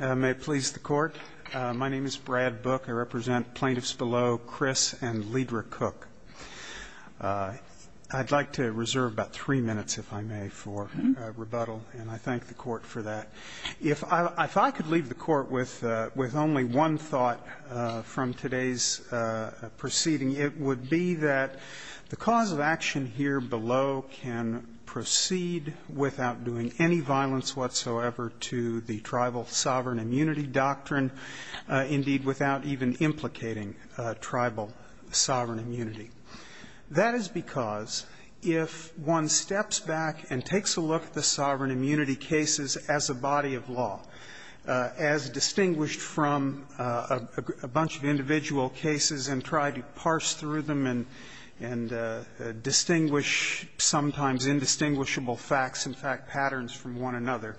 May it please the Court, my name is Brad Book. I represent plaintiffs below, Chris and Lydra Cook. I'd like to reserve about three minutes, if I may, for rebuttal and I thank the Court for that. If I could leave the Court with only one thought from today's proceeding, it would be that the cause of action here below can proceed without doing any violence whatsoever to the tribal sovereign immunity doctrine, indeed without even implicating tribal sovereign immunity. That is because if one steps back and takes a look at the sovereign immunity cases as a body of law, as distinguished from a bunch of individual cases and tried to parse through them and distinguish sometimes indistinguishable facts and fact patterns from one another,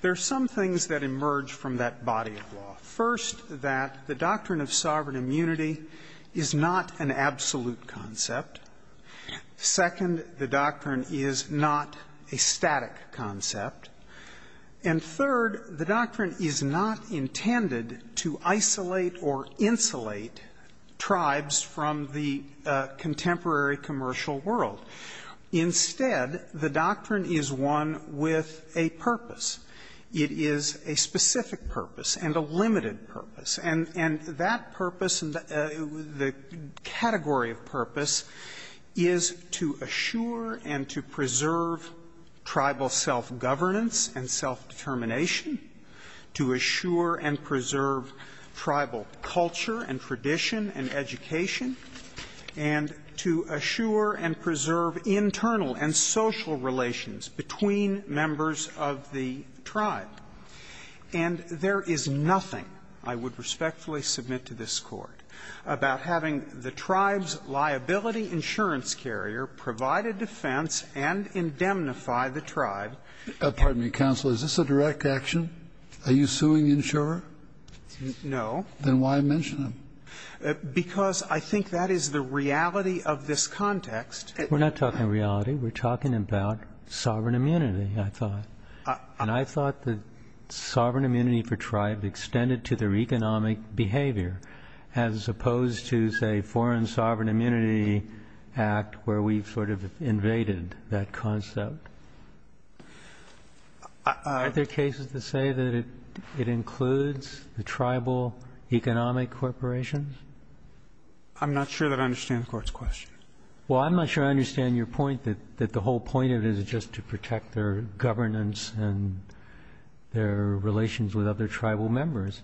there are some things that emerge from that body of law. First, that the doctrine of sovereign immunity is not an absolute concept. Second, the doctrine is not a static concept. And third, the doctrine is not intended to isolate or insulate tribes from the contemporary commercial world. Instead, the doctrine is one with a purpose. It is a specific purpose and a limited purpose. And that purpose, the category of purpose, is to assure and to preserve tribal self-governance and self-determination, to assure and preserve tribal culture and tradition and education, and to assure and preserve internal and social relations between members of the tribe. And there is nothing, I would respectfully submit to this Court, about having the tribe's liability insurance carrier provide a defense and indemnify the tribe. Kennedy, is this a direct action? Are you suing the insurer? No. Then why mention him? Because I think that is the reality of this context. We're not talking reality. We're talking about sovereign immunity, I thought. And I thought that sovereign immunity for tribes extended to their economic behavior, as opposed to, say, Foreign Sovereign Immunity Act, where we sort of invaded that concept. Are there cases to say that it includes the tribal economic corporations? I'm not sure that I understand the Court's question. Well, I'm not sure I understand your point that the whole point of it is just to protect their governance and their relations with other tribal members.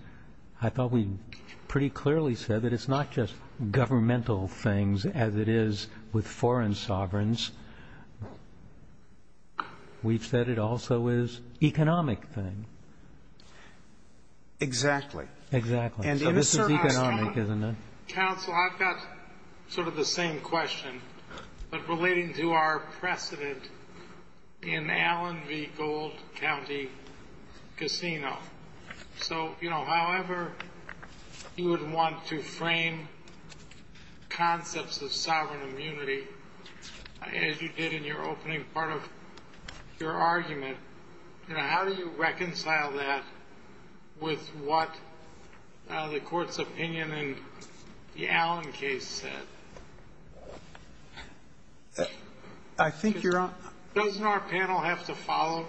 I thought we pretty clearly said that it's not just governmental things as it is with We've said it also is economic things. Exactly. Exactly. So this is economic, isn't it? Counsel, I've got sort of the same question, but relating to our precedent in Allen v. Gold County Casino. So, you know, however you would want to frame concepts of sovereign immunity, as you did in your opening part of your argument, you know, how do you reconcile that with what the Court's opinion in the Allen case said? I think you're on. Doesn't our panel have to follow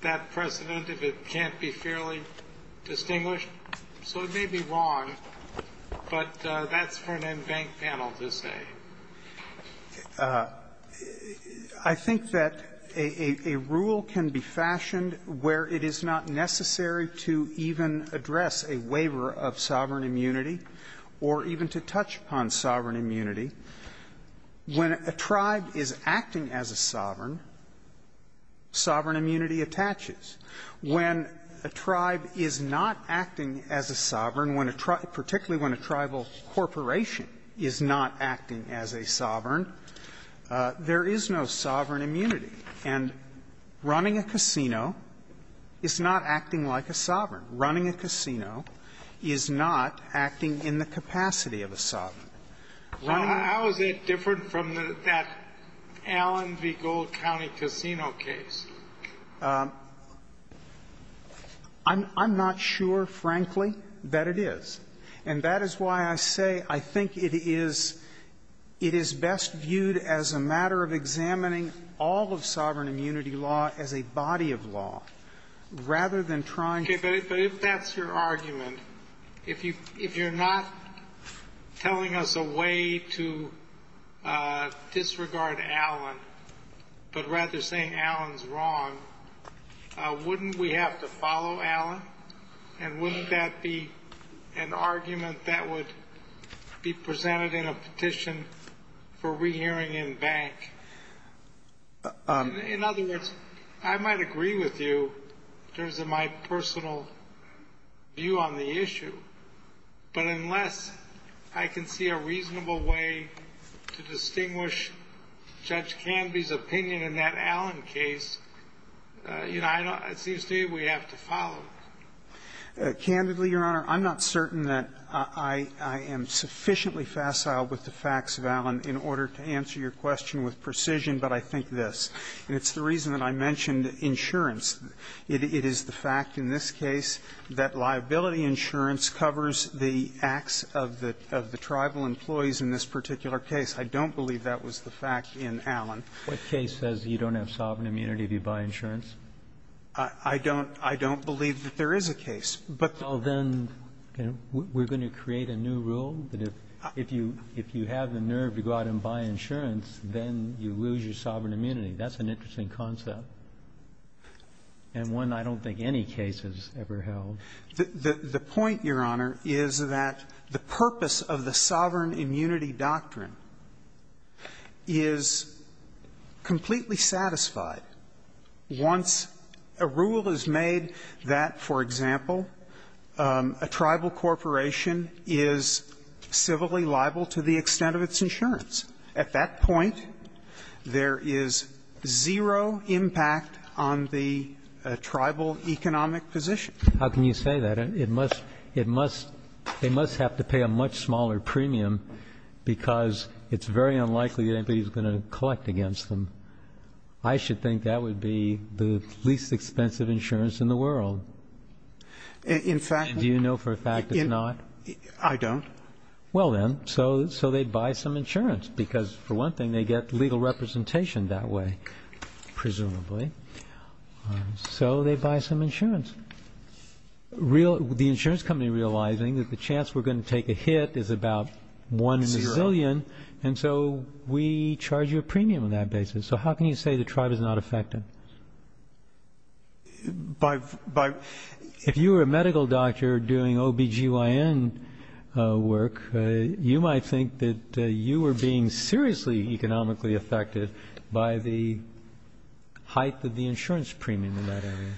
that precedent if it can't be fairly distinguished? So it may be wrong, but that's for an in-bank panel to say. I think that a rule can be fashioned where it is not necessary to even address a waiver of sovereign immunity or even to touch upon sovereign immunity. When a tribe is acting as a sovereign, sovereign immunity attaches. When a tribe is not acting as a sovereign, particularly when a tribal corporation is not acting as a sovereign, there is no sovereign immunity. And running a casino is not acting like a sovereign. Running a casino is not acting in the capacity of a sovereign. Running a casino is not acting in the capacity of a sovereign. How is that different from that Allen v. Gold County Casino case? I'm not sure, frankly, that it is. And that is why I say I think it is best viewed as a matter of examining all of sovereign immunity law as a body of law, rather than trying to do that. Okay, but if that's your argument, if you're not telling us a way to disregard Allen, but rather saying Allen's wrong, wouldn't we have to follow Allen, and wouldn't that be an argument that would be presented in a petition for rehearing in bank? In other words, I might agree with you in terms of my personal view on the issue, but unless I can see a reasonable way to distinguish Judge Canby's opinion in that Allen case, you know, it seems to me we have to follow it. Candidly, Your Honor, I'm not certain that I am sufficiently facile with the facts of Allen in order to answer your question with precision, but I think this. And it's the reason that I mentioned insurance. It is the fact in this case that liability insurance covers the acts of the tribal employees in this particular case. I don't believe that was the fact in Allen. What case says you don't have sovereign immunity if you buy insurance? I don't believe that there is a case. But the... Well, then we're going to create a new rule that if you have the nerve to go out and buy insurance, then you lose your sovereign immunity. That's an interesting concept, and one I don't think any case has ever held. The point, Your Honor, is that the purpose of the sovereign immunity doctrine is completely satisfied once a rule is made that, for example, a tribal corporation is civilly liable to the extent of its insurance. At that point, there is zero impact on the tribal economic position. How can you say that? They must have to pay a much smaller premium because it's very unlikely that anybody is going to collect against them. I should think that would be the least expensive insurance in the world. In fact... Do you know for a fact it's not? I don't. Well, then, so they buy some insurance because, for one thing, they get legal representation that way, presumably. So they buy some insurance. The insurance company realizing that the chance we're going to take a hit is about one in a zillion, and so we charge you a premium on that basis. So how can you say the tribe is not affected? If you were a medical doctor doing OBGYN work, you might think that you were being seriously economically affected by the height of the insurance premium in that area.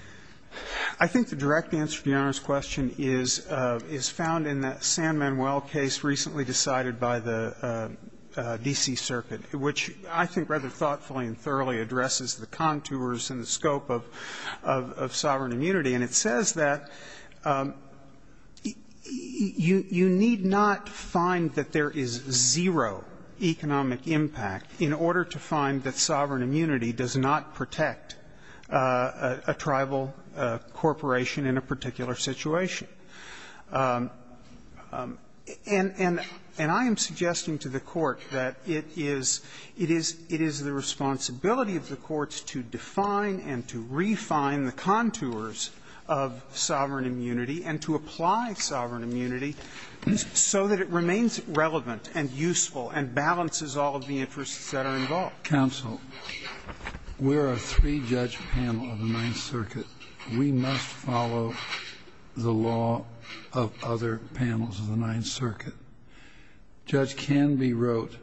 I think the direct answer to Your Honor's question is found in the San Manuel case recently decided by the D.C. Circuit, which I think rather thoughtfully and thoroughly addresses the contours and the scope of sovereign immunity. And it says that you need not find that there is zero economic impact in order to find that sovereign immunity does not protect a tribal corporation in a particular situation. And I am suggesting to the Court that it is the responsibility of the courts to define and to refine the contours of sovereign immunity and to apply sovereign immunity so that it remains relevant and useful and balances all of the interests that are involved. Counsel, we're a three-judge panel of the Ninth Circuit. We must follow the law of other panels of the Ninth Circuit. Judge Canby wrote,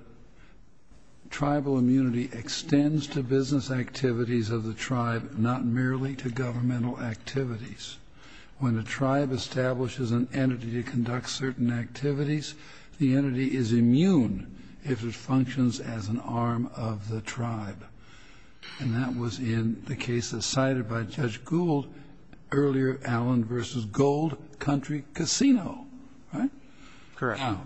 Tribal immunity extends to business activities of the tribe, not merely to governmental activities. When a tribe establishes an entity to conduct certain activities, the entity is immune if it functions as an arm of the tribe. And that was in the case that's cited by Judge Gould earlier, Allen v. Gold Country Casino, right? Correct. Now,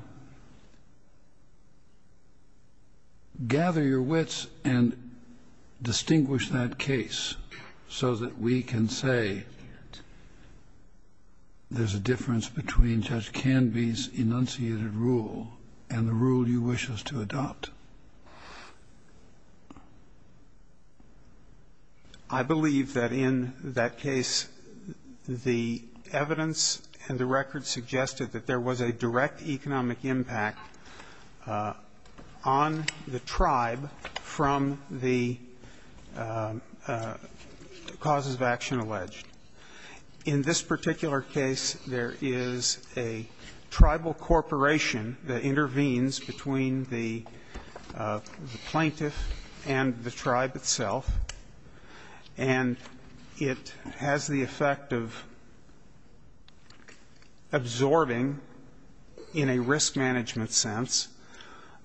gather your wits and distinguish that case so that we can say there's a difference between Judge Canby's enunciated rule and the rule you wish us to adopt. I believe that in that case the evidence and the record suggested that there was a direct economic impact on the tribe from the causes of action alleged. In this particular case, there is a tribal corporation that intervenes between the plaintiff and the tribe itself, and it has the effect of absorbing, in a risk management sense,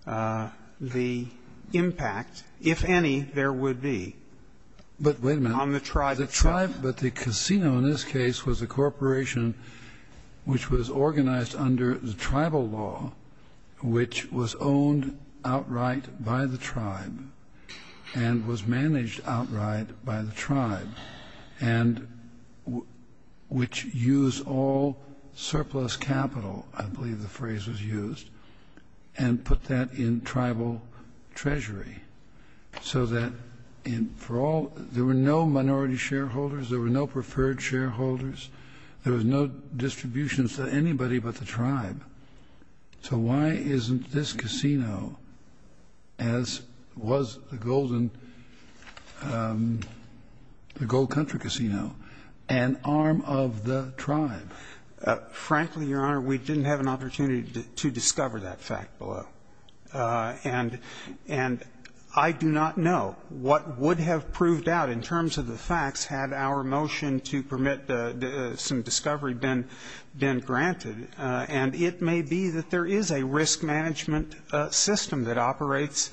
the impact, if any, there would be on the tribe itself. But the casino in this case was a corporation which was organized under the tribal law, which was owned outright by the tribe and was managed outright by the tribe, and which used all surplus capital, I believe the phrase was used, and put that in tribal treasury so that there were no minority shareholders, there were no preferred shareholders, there was no distributions to anybody but the tribe. So why isn't this casino, as was the Gold Country Casino, an arm of the tribe? Frankly, Your Honor, we didn't have an opportunity to discover that fact below. And I do not know what would have proved out in terms of the facts had our motion to permit some discovery been granted. And it may be that there is a risk management system that operates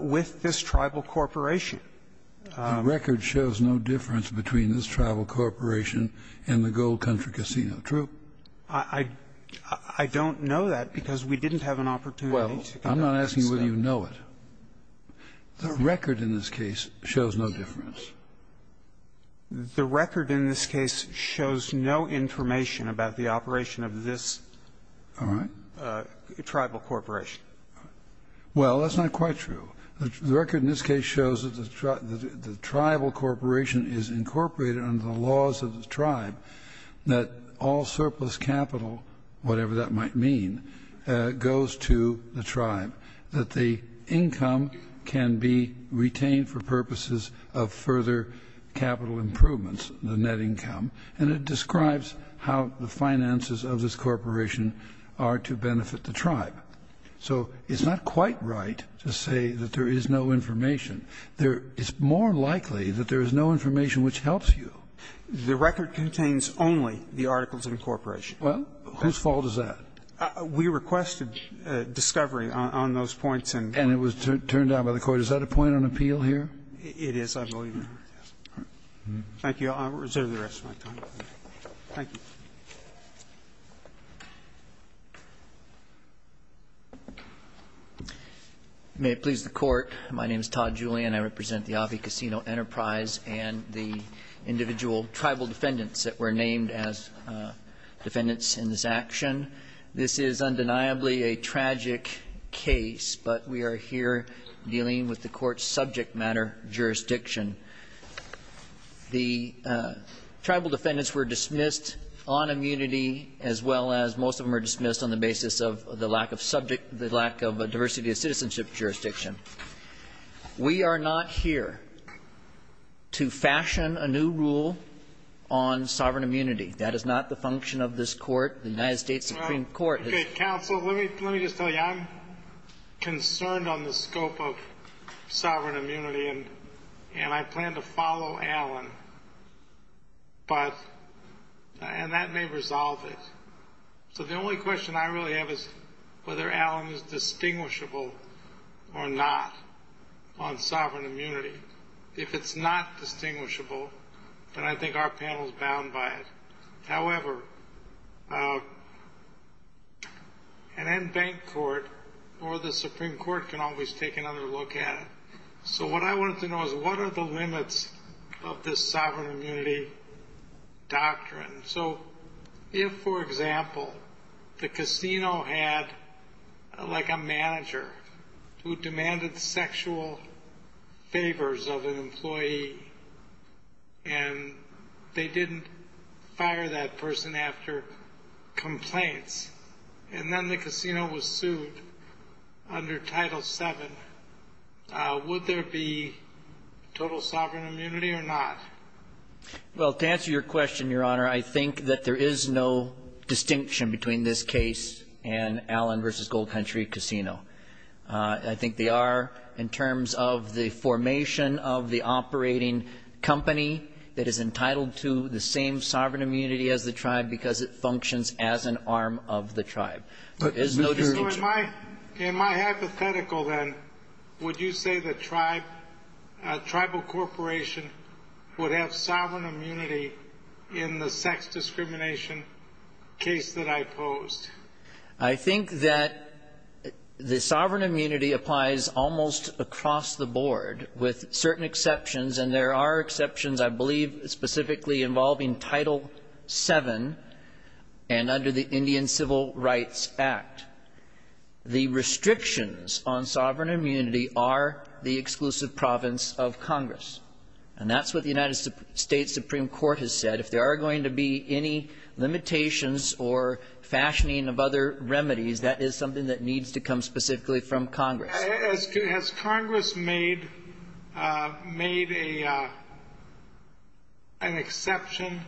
with this tribal corporation. The record shows no difference between this tribal corporation and the Gold Country Casino. True. I don't know that Well, I'm not asking whether you know it. The record in this case shows no difference. The record in this case shows no information about the operation of this tribal corporation. Well, that's not quite true. The record in this case shows that the tribal corporation is incorporated under the laws of the tribe that all surplus capital, whatever that might mean, goes to the tribe, that the income can be retained for purposes of further capital improvements, the net income. And it describes how the finances of this corporation are to benefit the tribe. So it's not quite right to say that there is no information. It's more likely that there is no information which helps you. The record contains only the articles of incorporation. Well, whose fault is that? We requested discovery on those points. And it was turned down by the court. Is that a point on appeal here? It is. Thank you. I'll reserve the rest of my time. Thank you. May it please the Court. My name is Todd Julian. I represent the Aave Casino Enterprise and the individual tribal defendants that were named as defendants in this action. This is undeniably a tragic case, but we are here dealing with the court's subject matter jurisdiction. The tribal defendants were dismissed on immunity as well as most of them were dismissed on the basis of the lack of diversity of citizenship jurisdiction. We are not here to fashion a new rule on sovereign immunity. That is not the function of this court. The United States Supreme Court has... Okay, counsel, let me just tell you. I'm concerned on the scope of sovereign immunity and I plan to follow Alan. But... And that may resolve it. So the only question I really have is whether Alan is distinguishable or not on sovereign immunity. If it's not distinguishable, then I think our panel is bound by it. However, an in-bank court or the Supreme Court can always take another look at it. So what I wanted to know is what are the limits of this sovereign immunity doctrine? So if, for example, the casino had, like a manager who demanded sexual favors of an employee and they didn't fire that person after complaints and then the casino was sued under Title VII, would there be total sovereign immunity or not? Well, to answer your question, Your Honor, I think that there is no distinction between this case and Alan v. Gold Country Casino. I think they are in terms of the formation of the operating company that is entitled to the same sovereign immunity as the tribe because it functions as an arm of the tribe. So in my hypothetical then, would you say that a tribal corporation would have sovereign immunity in the sex discrimination case that I posed? I think that the sovereign immunity applies almost across the board with certain exceptions, and there are exceptions, I believe, specifically involving Title VII and under the Indian Civil Rights Act. The restrictions on sovereign immunity are the exclusive province of Congress. And that's what the United States Supreme Court has said. If there are going to be any limitations or fashioning of other needs to come specifically from Congress. Has Congress made an exception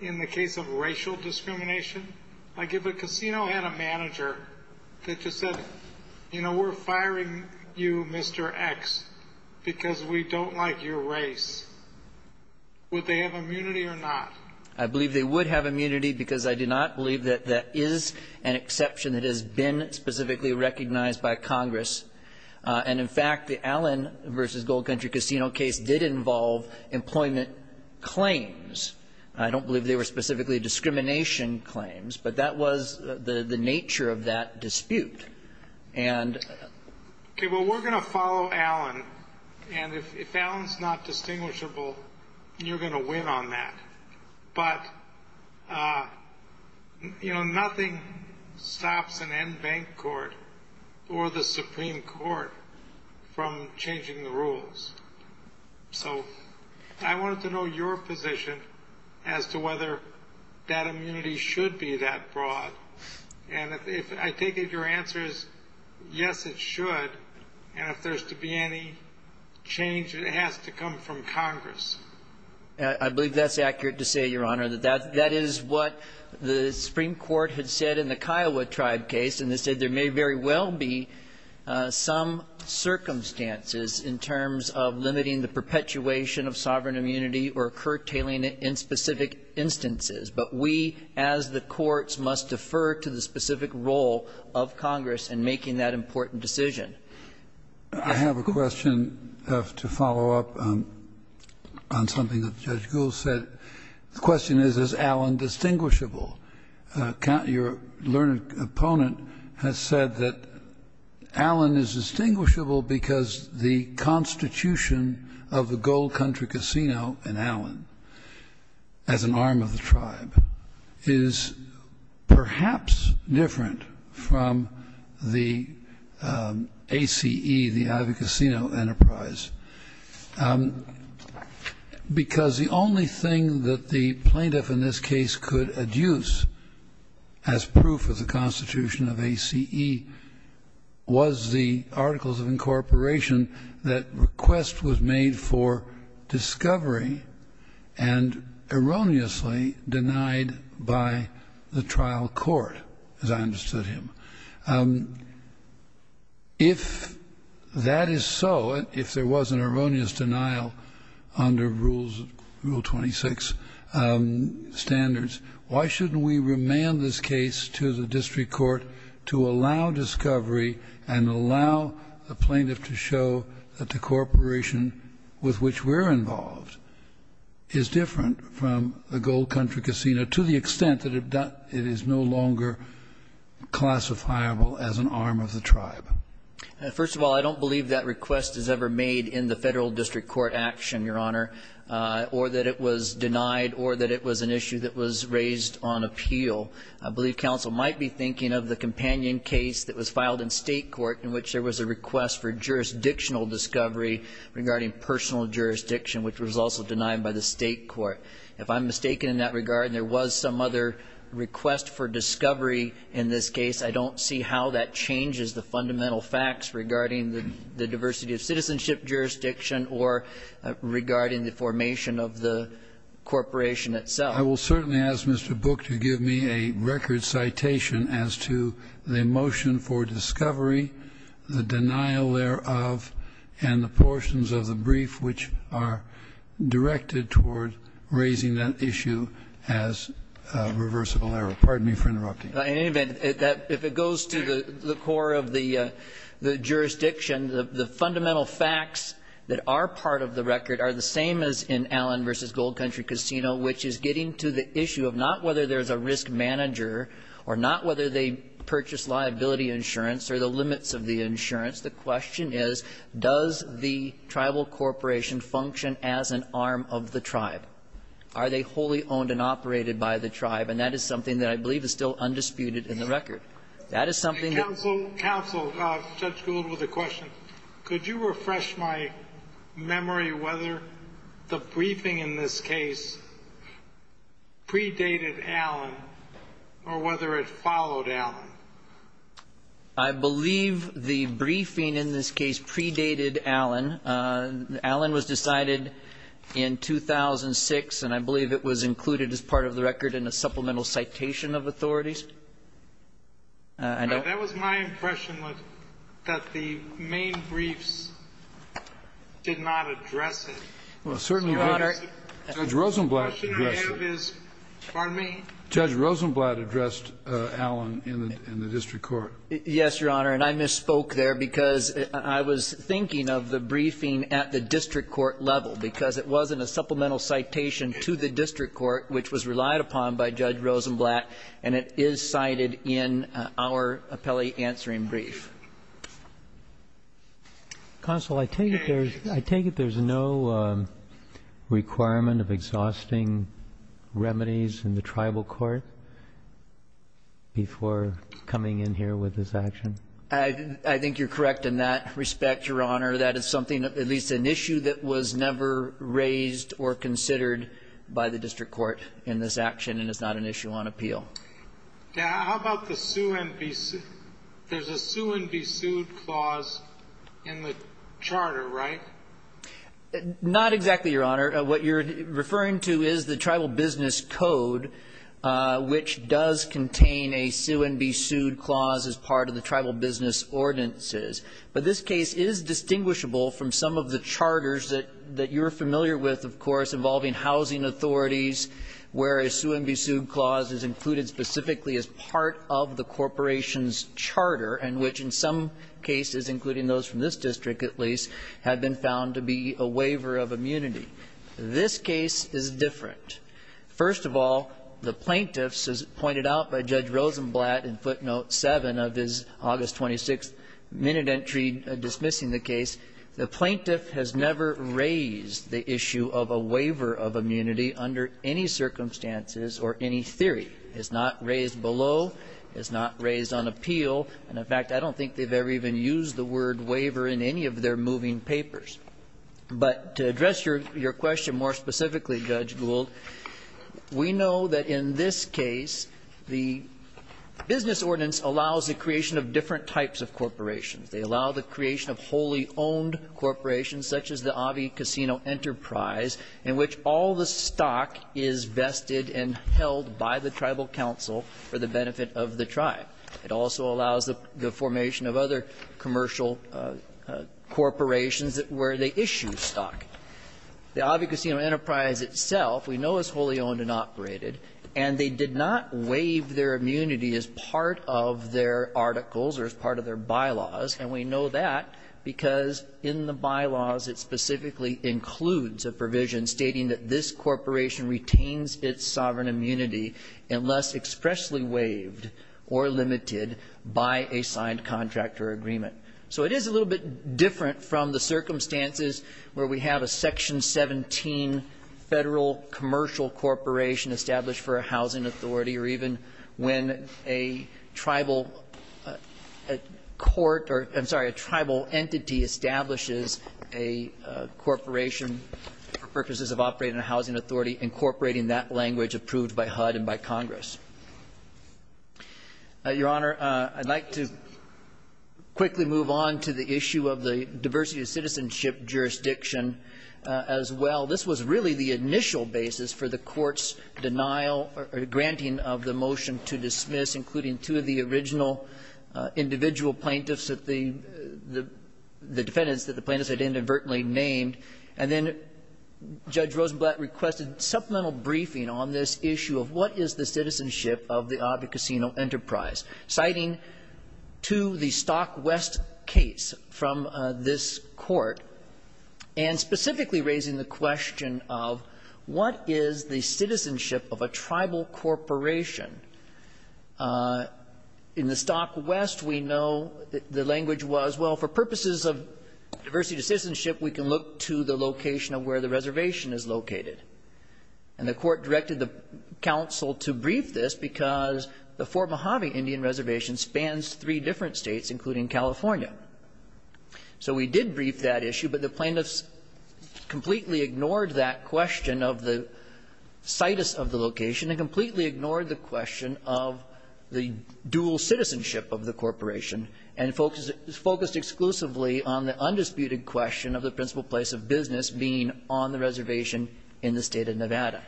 in the case of racial discrimination? Like if a casino had a manager that just said, you know, we're firing you, Mr. X, because we don't like your race. Would they have immunity or not? I believe they would have immunity because I do not believe that is an exception that has been specifically recognized by Congress. And in fact, the Allen v. Gold Country Casino case did involve employment claims. I don't believe they were specifically discrimination claims, but that was the nature of that dispute. And... Okay, well we're going to follow Allen and if Allen's not distinguishable you're going to win on that. But you know, nothing stops an in-bank court or the Supreme Court from changing the rules. So, I wanted to know your position as to whether that immunity should be that broad. And I take it your answer is yes, it should and if there's to be any change, it has to come from Congress. I believe that's accurate to say, Your Honor. That is what the Supreme Court had said in the Kiowa Tribe case and they said there may very well be some circumstances in terms of limiting the perpetuation of sovereign immunity or curtailing it in specific instances. But we, as the courts, must defer to the specific role of Congress in making that important decision. I have a question to follow up on something that Judge Gould said. The question is is Allen distinguishable? Your learned opponent has said that Allen is distinguishable because the constitution of the Gold Country Casino in Allen as an arm of the tribe is perhaps different from the ACE, the Ivy Casino enterprise because the only thing that the plaintiff in this case could adduce as proof of the constitution of ACE was the articles of incorporation that request was made for discovery and erroneously denied by the trial court as I understood him. If that is so, if there was an erroneous denial under Rule 26 standards why shouldn't we remand this case to the district court to allow discovery and allow the plaintiff to show that the incorporation with which we're involved is different from the Gold Country Casino to the extent that it is no longer classifiable as an arm of the tribe? First of all, I don't believe that request is ever made in the federal district court action, Your Honor, or that it was denied or that it was an issue that was raised on appeal. I believe counsel might be thinking of the companion case that was filed in state court in which there was a request for jurisdictional discovery regarding personal jurisdiction which was also denied by the state court. If I'm mistaken in that regard and there was some other request for discovery in this case, I don't see how that changes the fundamental facts regarding the diversity of citizenship jurisdiction or regarding the formation of the corporation itself. I will certainly ask Mr. Book to give me a record citation as to the motion for discovery, the denial thereof, and the portions of the brief which are directed toward raising that issue as a reversible error. Pardon me for interrupting. If it goes to the core of the jurisdiction, the fundamental facts that are part of the record are the same as in Allen v. Gold Country Casino which is getting to the issue of not whether there's a risk manager or not whether they purchase liability insurance or the limits of the insurance. the tribal corporation function as an arm of the tribe? Are they wholly owned and operated by the tribe? And that is something that I believe is still undisputed in the record. Counsel, Judge Gold with a question. Could you refresh my memory whether the briefing in this case predated Allen or whether it followed Allen? I believe the briefing in this case predated Allen. Allen was decided in 2006 and I believe it was included as part of the record in a supplemental citation of authorities. That was my impression that the main briefs did not address it. Judge Rosenblatt addressed it. Pardon me? Judge Rosenblatt addressed Allen in the district court. Yes, Your Honor, and I misspoke there because I was thinking of the briefing at the district court level because it was in a supplemental citation to the district court which was relied upon by Judge Rosenblatt and it is cited in our appellate answering brief. Counsel, I take it there's no requirement of exhausting remedies in the tribal court before coming in here with this action? I think you're correct in that respect, Your Honor. That is something, at least an issue that was never raised or considered by the district court in this action and it's not an issue on appeal. How about the sue and be sued? There's a sue and be sued clause in the charter, right? Not exactly, Your Honor. What you're referring to is the tribal business code which does contain a sue and be sued clause as part of the tribal business ordinances. But this case is distinguishable from some of the charters that you're familiar with, of course, involving housing authorities where a sue and be sued clause is included specifically as part of the corporation's charter and which in some cases, including those from this district at least, have been found to be a waiver of immunity. This case is different. First of all, the plaintiffs, as pointed out by Judge Rosenblatt in footnote 7 of his August 26th minute entry dismissing the case, the plaintiff has never raised the issue of a waiver of immunity under any circumstances or any theory. It's not raised below. It's not raised on appeal. In fact, I don't think they've ever even used the word waiver in any of their moving papers. But to address your question more specifically, Judge Gould, we know that in this case, the business ordinance allows the creation of different types of corporations. They allow the creation of wholly owned corporations such as the Avi Casino Enterprise in which all the stock is vested and held by the tribal council for the benefit of the tribe. It also allows the formation of other commercial corporations where they issue stock. The Avi Casino Enterprise itself we know is wholly owned and operated and they did not waive their immunity as part of their articles or as part of their bylaws and we know that because in the bylaws it specifically includes a provision stating that this corporation retains its sovereign immunity unless expressly waived or limited by a signed contract or agreement. So it is a little bit different from the circumstances where we have a section 17 federal commercial corporation established for a housing authority or even when a tribal entity establishes a corporation for purposes of operating a housing authority incorporating that language approved by HUD and by Congress. Your Honor, I'd like to quickly move on to the issue of the diversity of citizenship jurisdiction as well. This was really the initial basis for the Court's denial or granting of the motion to dismiss including two of the original individual plaintiffs that the defendants that the plaintiffs had inadvertently named and then Judge Rosenblatt requested supplemental briefing on this issue of what is the citizenship of the Avi Casino Enterprise citing to the Stockwest case from this Court and specifically raising the question of what is the citizenship of a tribal corporation? In the Stockwest we know the language was well for purposes of diversity of citizenship we can look to the location of where the reservation is located. And the Court directed the counsel to brief this because the Fort Mojave Indian Reservation spans three different states including California. So we did brief that issue but the plaintiffs completely ignored that question of the situs of the location and completely ignored the question of the dual citizenship of the corporation and focused exclusively on the undisputed question of the principal place of business being on the reservation in the State of Nevada.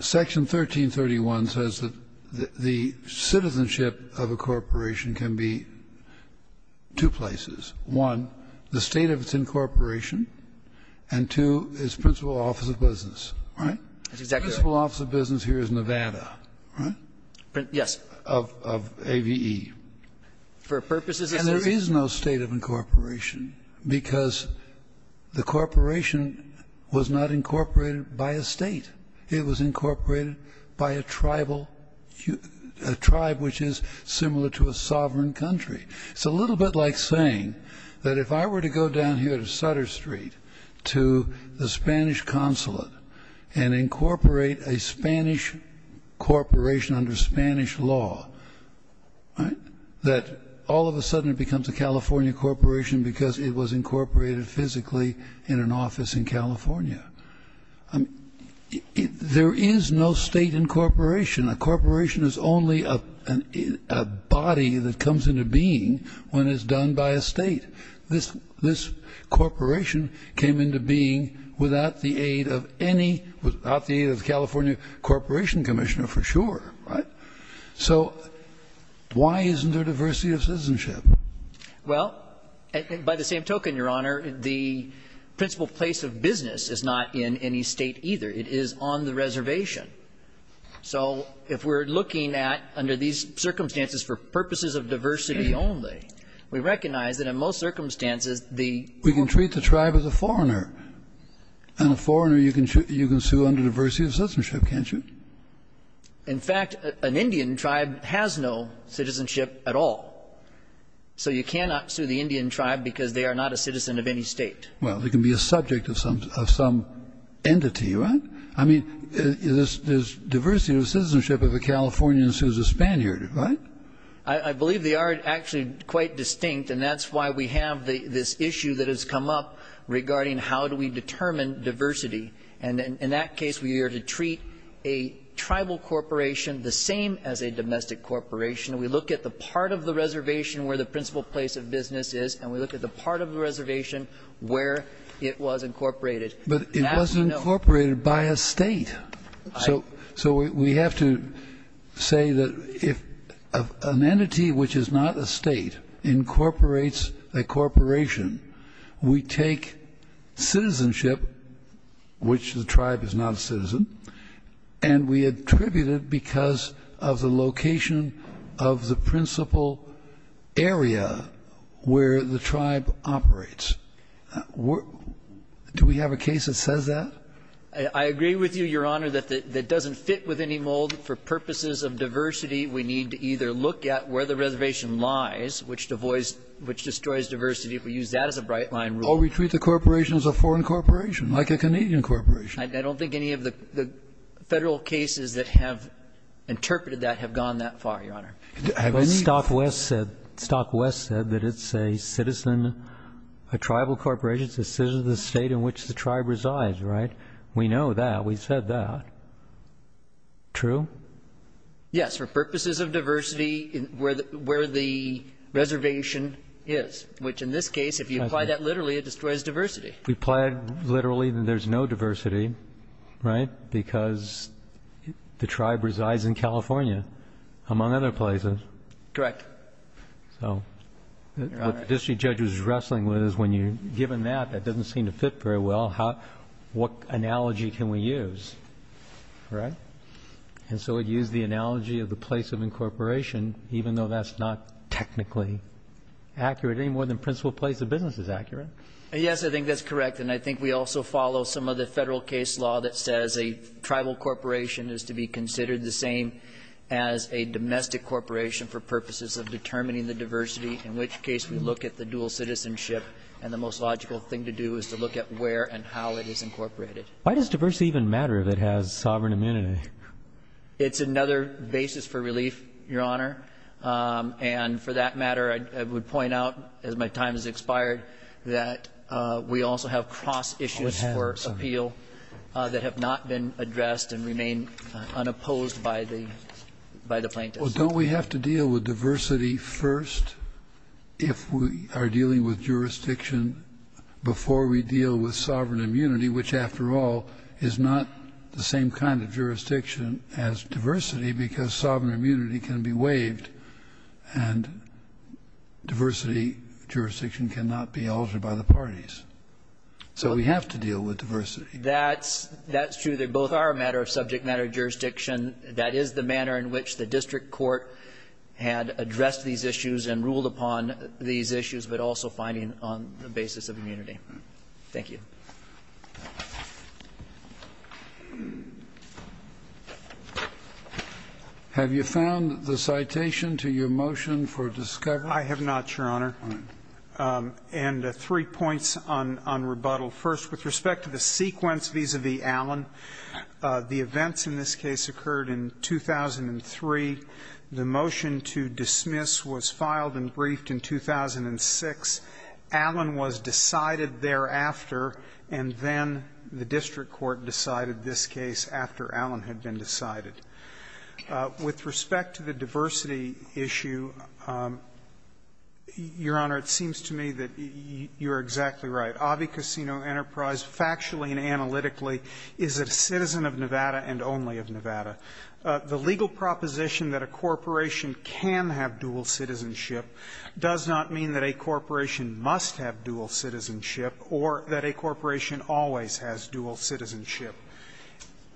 Section 1331 says that the citizenship of a corporation can be in two places. One, the State of its incorporation and two, its principal office of business. Right? Principal office of business here is Nevada. Right? Yes. Of AVE. For purposes of citizenship. And there is no State of incorporation because the corporation was not incorporated by a State. It was incorporated by a tribal a tribe which is similar to a sovereign country. It's a little bit like saying that if I were to go down here to Sutter Street to the Spanish Consulate and incorporate a Spanish corporation under Spanish law that all of a sudden it becomes a California corporation because it was incorporated physically in an office in California. There is no State incorporation. A corporation is only a body that comes into being when it's done by a State. This corporation came into being without the aid of any, without the aid of the California Corporation Commissioner for sure. Right? Why isn't there diversity of citizenship? By the same token, Your Honor, the principal place of business is not in any State either. It is on the reservation. So if we're looking at, under these circumstances for purposes of diversity only, we recognize that in most circumstances the... We can treat the tribe as a foreigner. And a foreigner you can sue under diversity of citizenship, can't you? In fact, an Indian tribe has no citizenship at all. So you cannot sue the Indian tribe because they are not a citizen of any State. Well, they can be a subject of some entity, right? I mean, there's diversity of citizenship if a Californian sues a Spaniard, right? I believe they are actually quite distinct, and that's why we have this issue that has come up regarding how do we determine diversity. And in that case, we are to treat a tribal corporation the same as a domestic corporation. We look at the part of the reservation where the principal place of business is, and we look at the part of the reservation where it was incorporated. But it wasn't incorporated by a State. So we have to say that if an entity which is not a State incorporates a corporation, we take citizenship, which the tribe is not a citizen, and we attribute it because of the location of the principal area where the tribe operates. Do we have a case that says that? I agree with you, Your Honor, that it doesn't fit with any mold. For purposes of diversity, we need to either look at where the reservation lies, which destroys diversity. We use that as a bright line rule. Or we treat the corporation as a foreign corporation, like a Canadian corporation. I don't think any of the Federal cases that have interpreted that have gone that far, Your Honor. Stockwest said that it's a citizen, a tribal corporation, it's a citizen of the State in which the tribe resides, right? We know that. We said that. True? Yes. For purposes of diversity, where the reservation is, which in this case, if you apply that literally, it destroys diversity. If we apply it literally, then there's no diversity, right? Because the tribe resides in California, among other places. Correct. So what the district judge was wrestling with is when you given that, that doesn't seem to fit very well, what analogy can we use? And so we use the analogy of the place of incorporation, even though that's not technically accurate any more than principal place of business is accurate. Yes, I think that's correct. And I think we also follow some of the Federal case law that says a tribal corporation is to be considered the same as a domestic corporation for purposes of determining the diversity, in which case we look at the dual citizenship, and the most logical thing to do is to look at where and how it is incorporated. Why does diversity even matter if it has sovereign immunity? It's another basis for relief, Your Honor. And for that matter, I would point out, as my time has expired, that we also have cross-issues for appeal that have not been addressed and remain unopposed by the plaintiffs. Well, don't we have to deal with diversity first if we are dealing with jurisdiction before we deal with sovereign immunity, which, after all, is not the same kind of jurisdiction as diversity, because sovereign immunity can be waived and diversity jurisdiction cannot be altered by the parties. So we have to deal with diversity. That's true. They both are a matter of subject matter jurisdiction. That is the manner in which the district court had addressed these issues and ruled upon these issues, but also finding on the basis of immunity. Thank you. Have you found the citation to your motion for discovery? I have not, Your Honor. And three points on rebuttal. First, with respect to the sequence vis-a-vis Allen, the events in this case occurred in 2003. The motion to dismiss was filed and briefed in 2006. Allen was decided thereafter, and then the district court decided this case after Allen had been decided. With respect to the diversity issue, Your Honor, it seems to me that you are exactly right. Avi Casino Enterprise, factually and analytically, is a citizen of Nevada and only of Nevada. The legal proposition that a corporation can have dual citizenship does not mean that a corporation must have dual citizenship or that a corporation always has dual citizenship.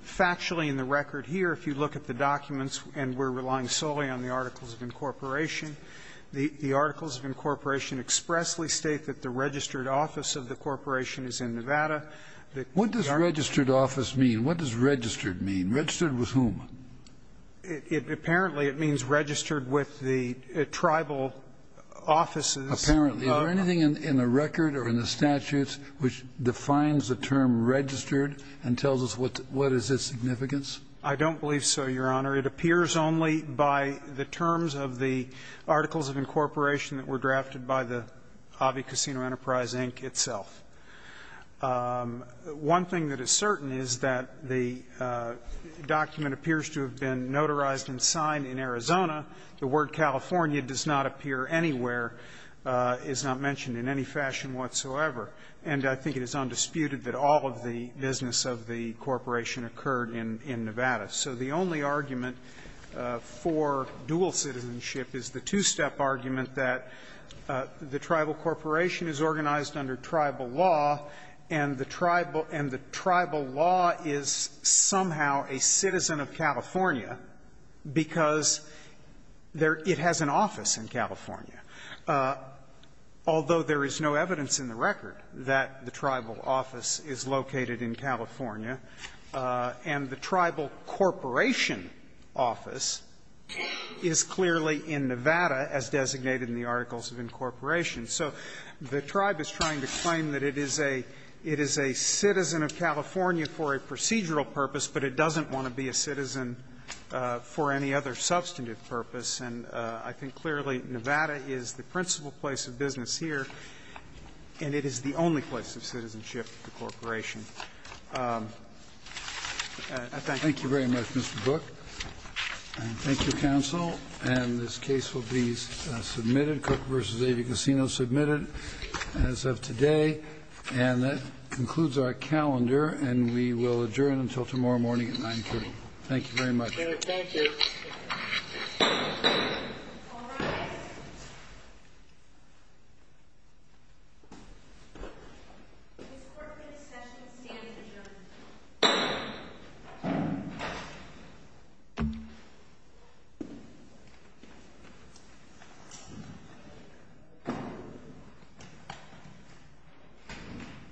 Factually, in the record here, if you look at the documents and we're relying solely on the articles of incorporation, the articles of incorporation expressly state that the registered office of the corporation is in Nevada. What does registered office mean? What does registered mean? Registered with whom? Apparently, it means registered with the tribal offices. Apparently. Is there anything in the record or in the statutes which defines the term registered and tells us what is its significance? I don't believe so, Your Honor. It appears only by the terms of the articles of incorporation that were drafted by the Hobby Casino Enterprise, Inc., itself. One thing that is certain is that the document appears to have been notarized and signed in Arizona. The word California does not appear anywhere, is not mentioned in any fashion whatsoever. And I think it is undisputed that all of the business of the corporation occurred in Nevada. So the only argument for dual citizenship is the two-step argument that the tribal corporation is organized under tribal law and the tribal law is somehow a citizen of California because it has an office in California, although there is no evidence in the record that the tribal office is located in California and the tribal corporation office is clearly in Nevada as designated in the articles of incorporation. So the tribe is trying to claim that it is a citizen of California for a procedural purpose, but it doesn't want to be a citizen for any other substantive purpose. And I think clearly Nevada is the principal place of business here, and it is the only place of citizenship of the corporation. I thank you. Thank you very much, Mr. Brooke. Thank you, counsel. And this case will be submitted, Cook v. Avey Casino, submitted as of today. And that concludes our calendar, and we will adjourn until tomorrow morning at 9.30. Thank you very much. Thank you. All rise. Ms. Corkman, the session is standing adjourned. Thank you.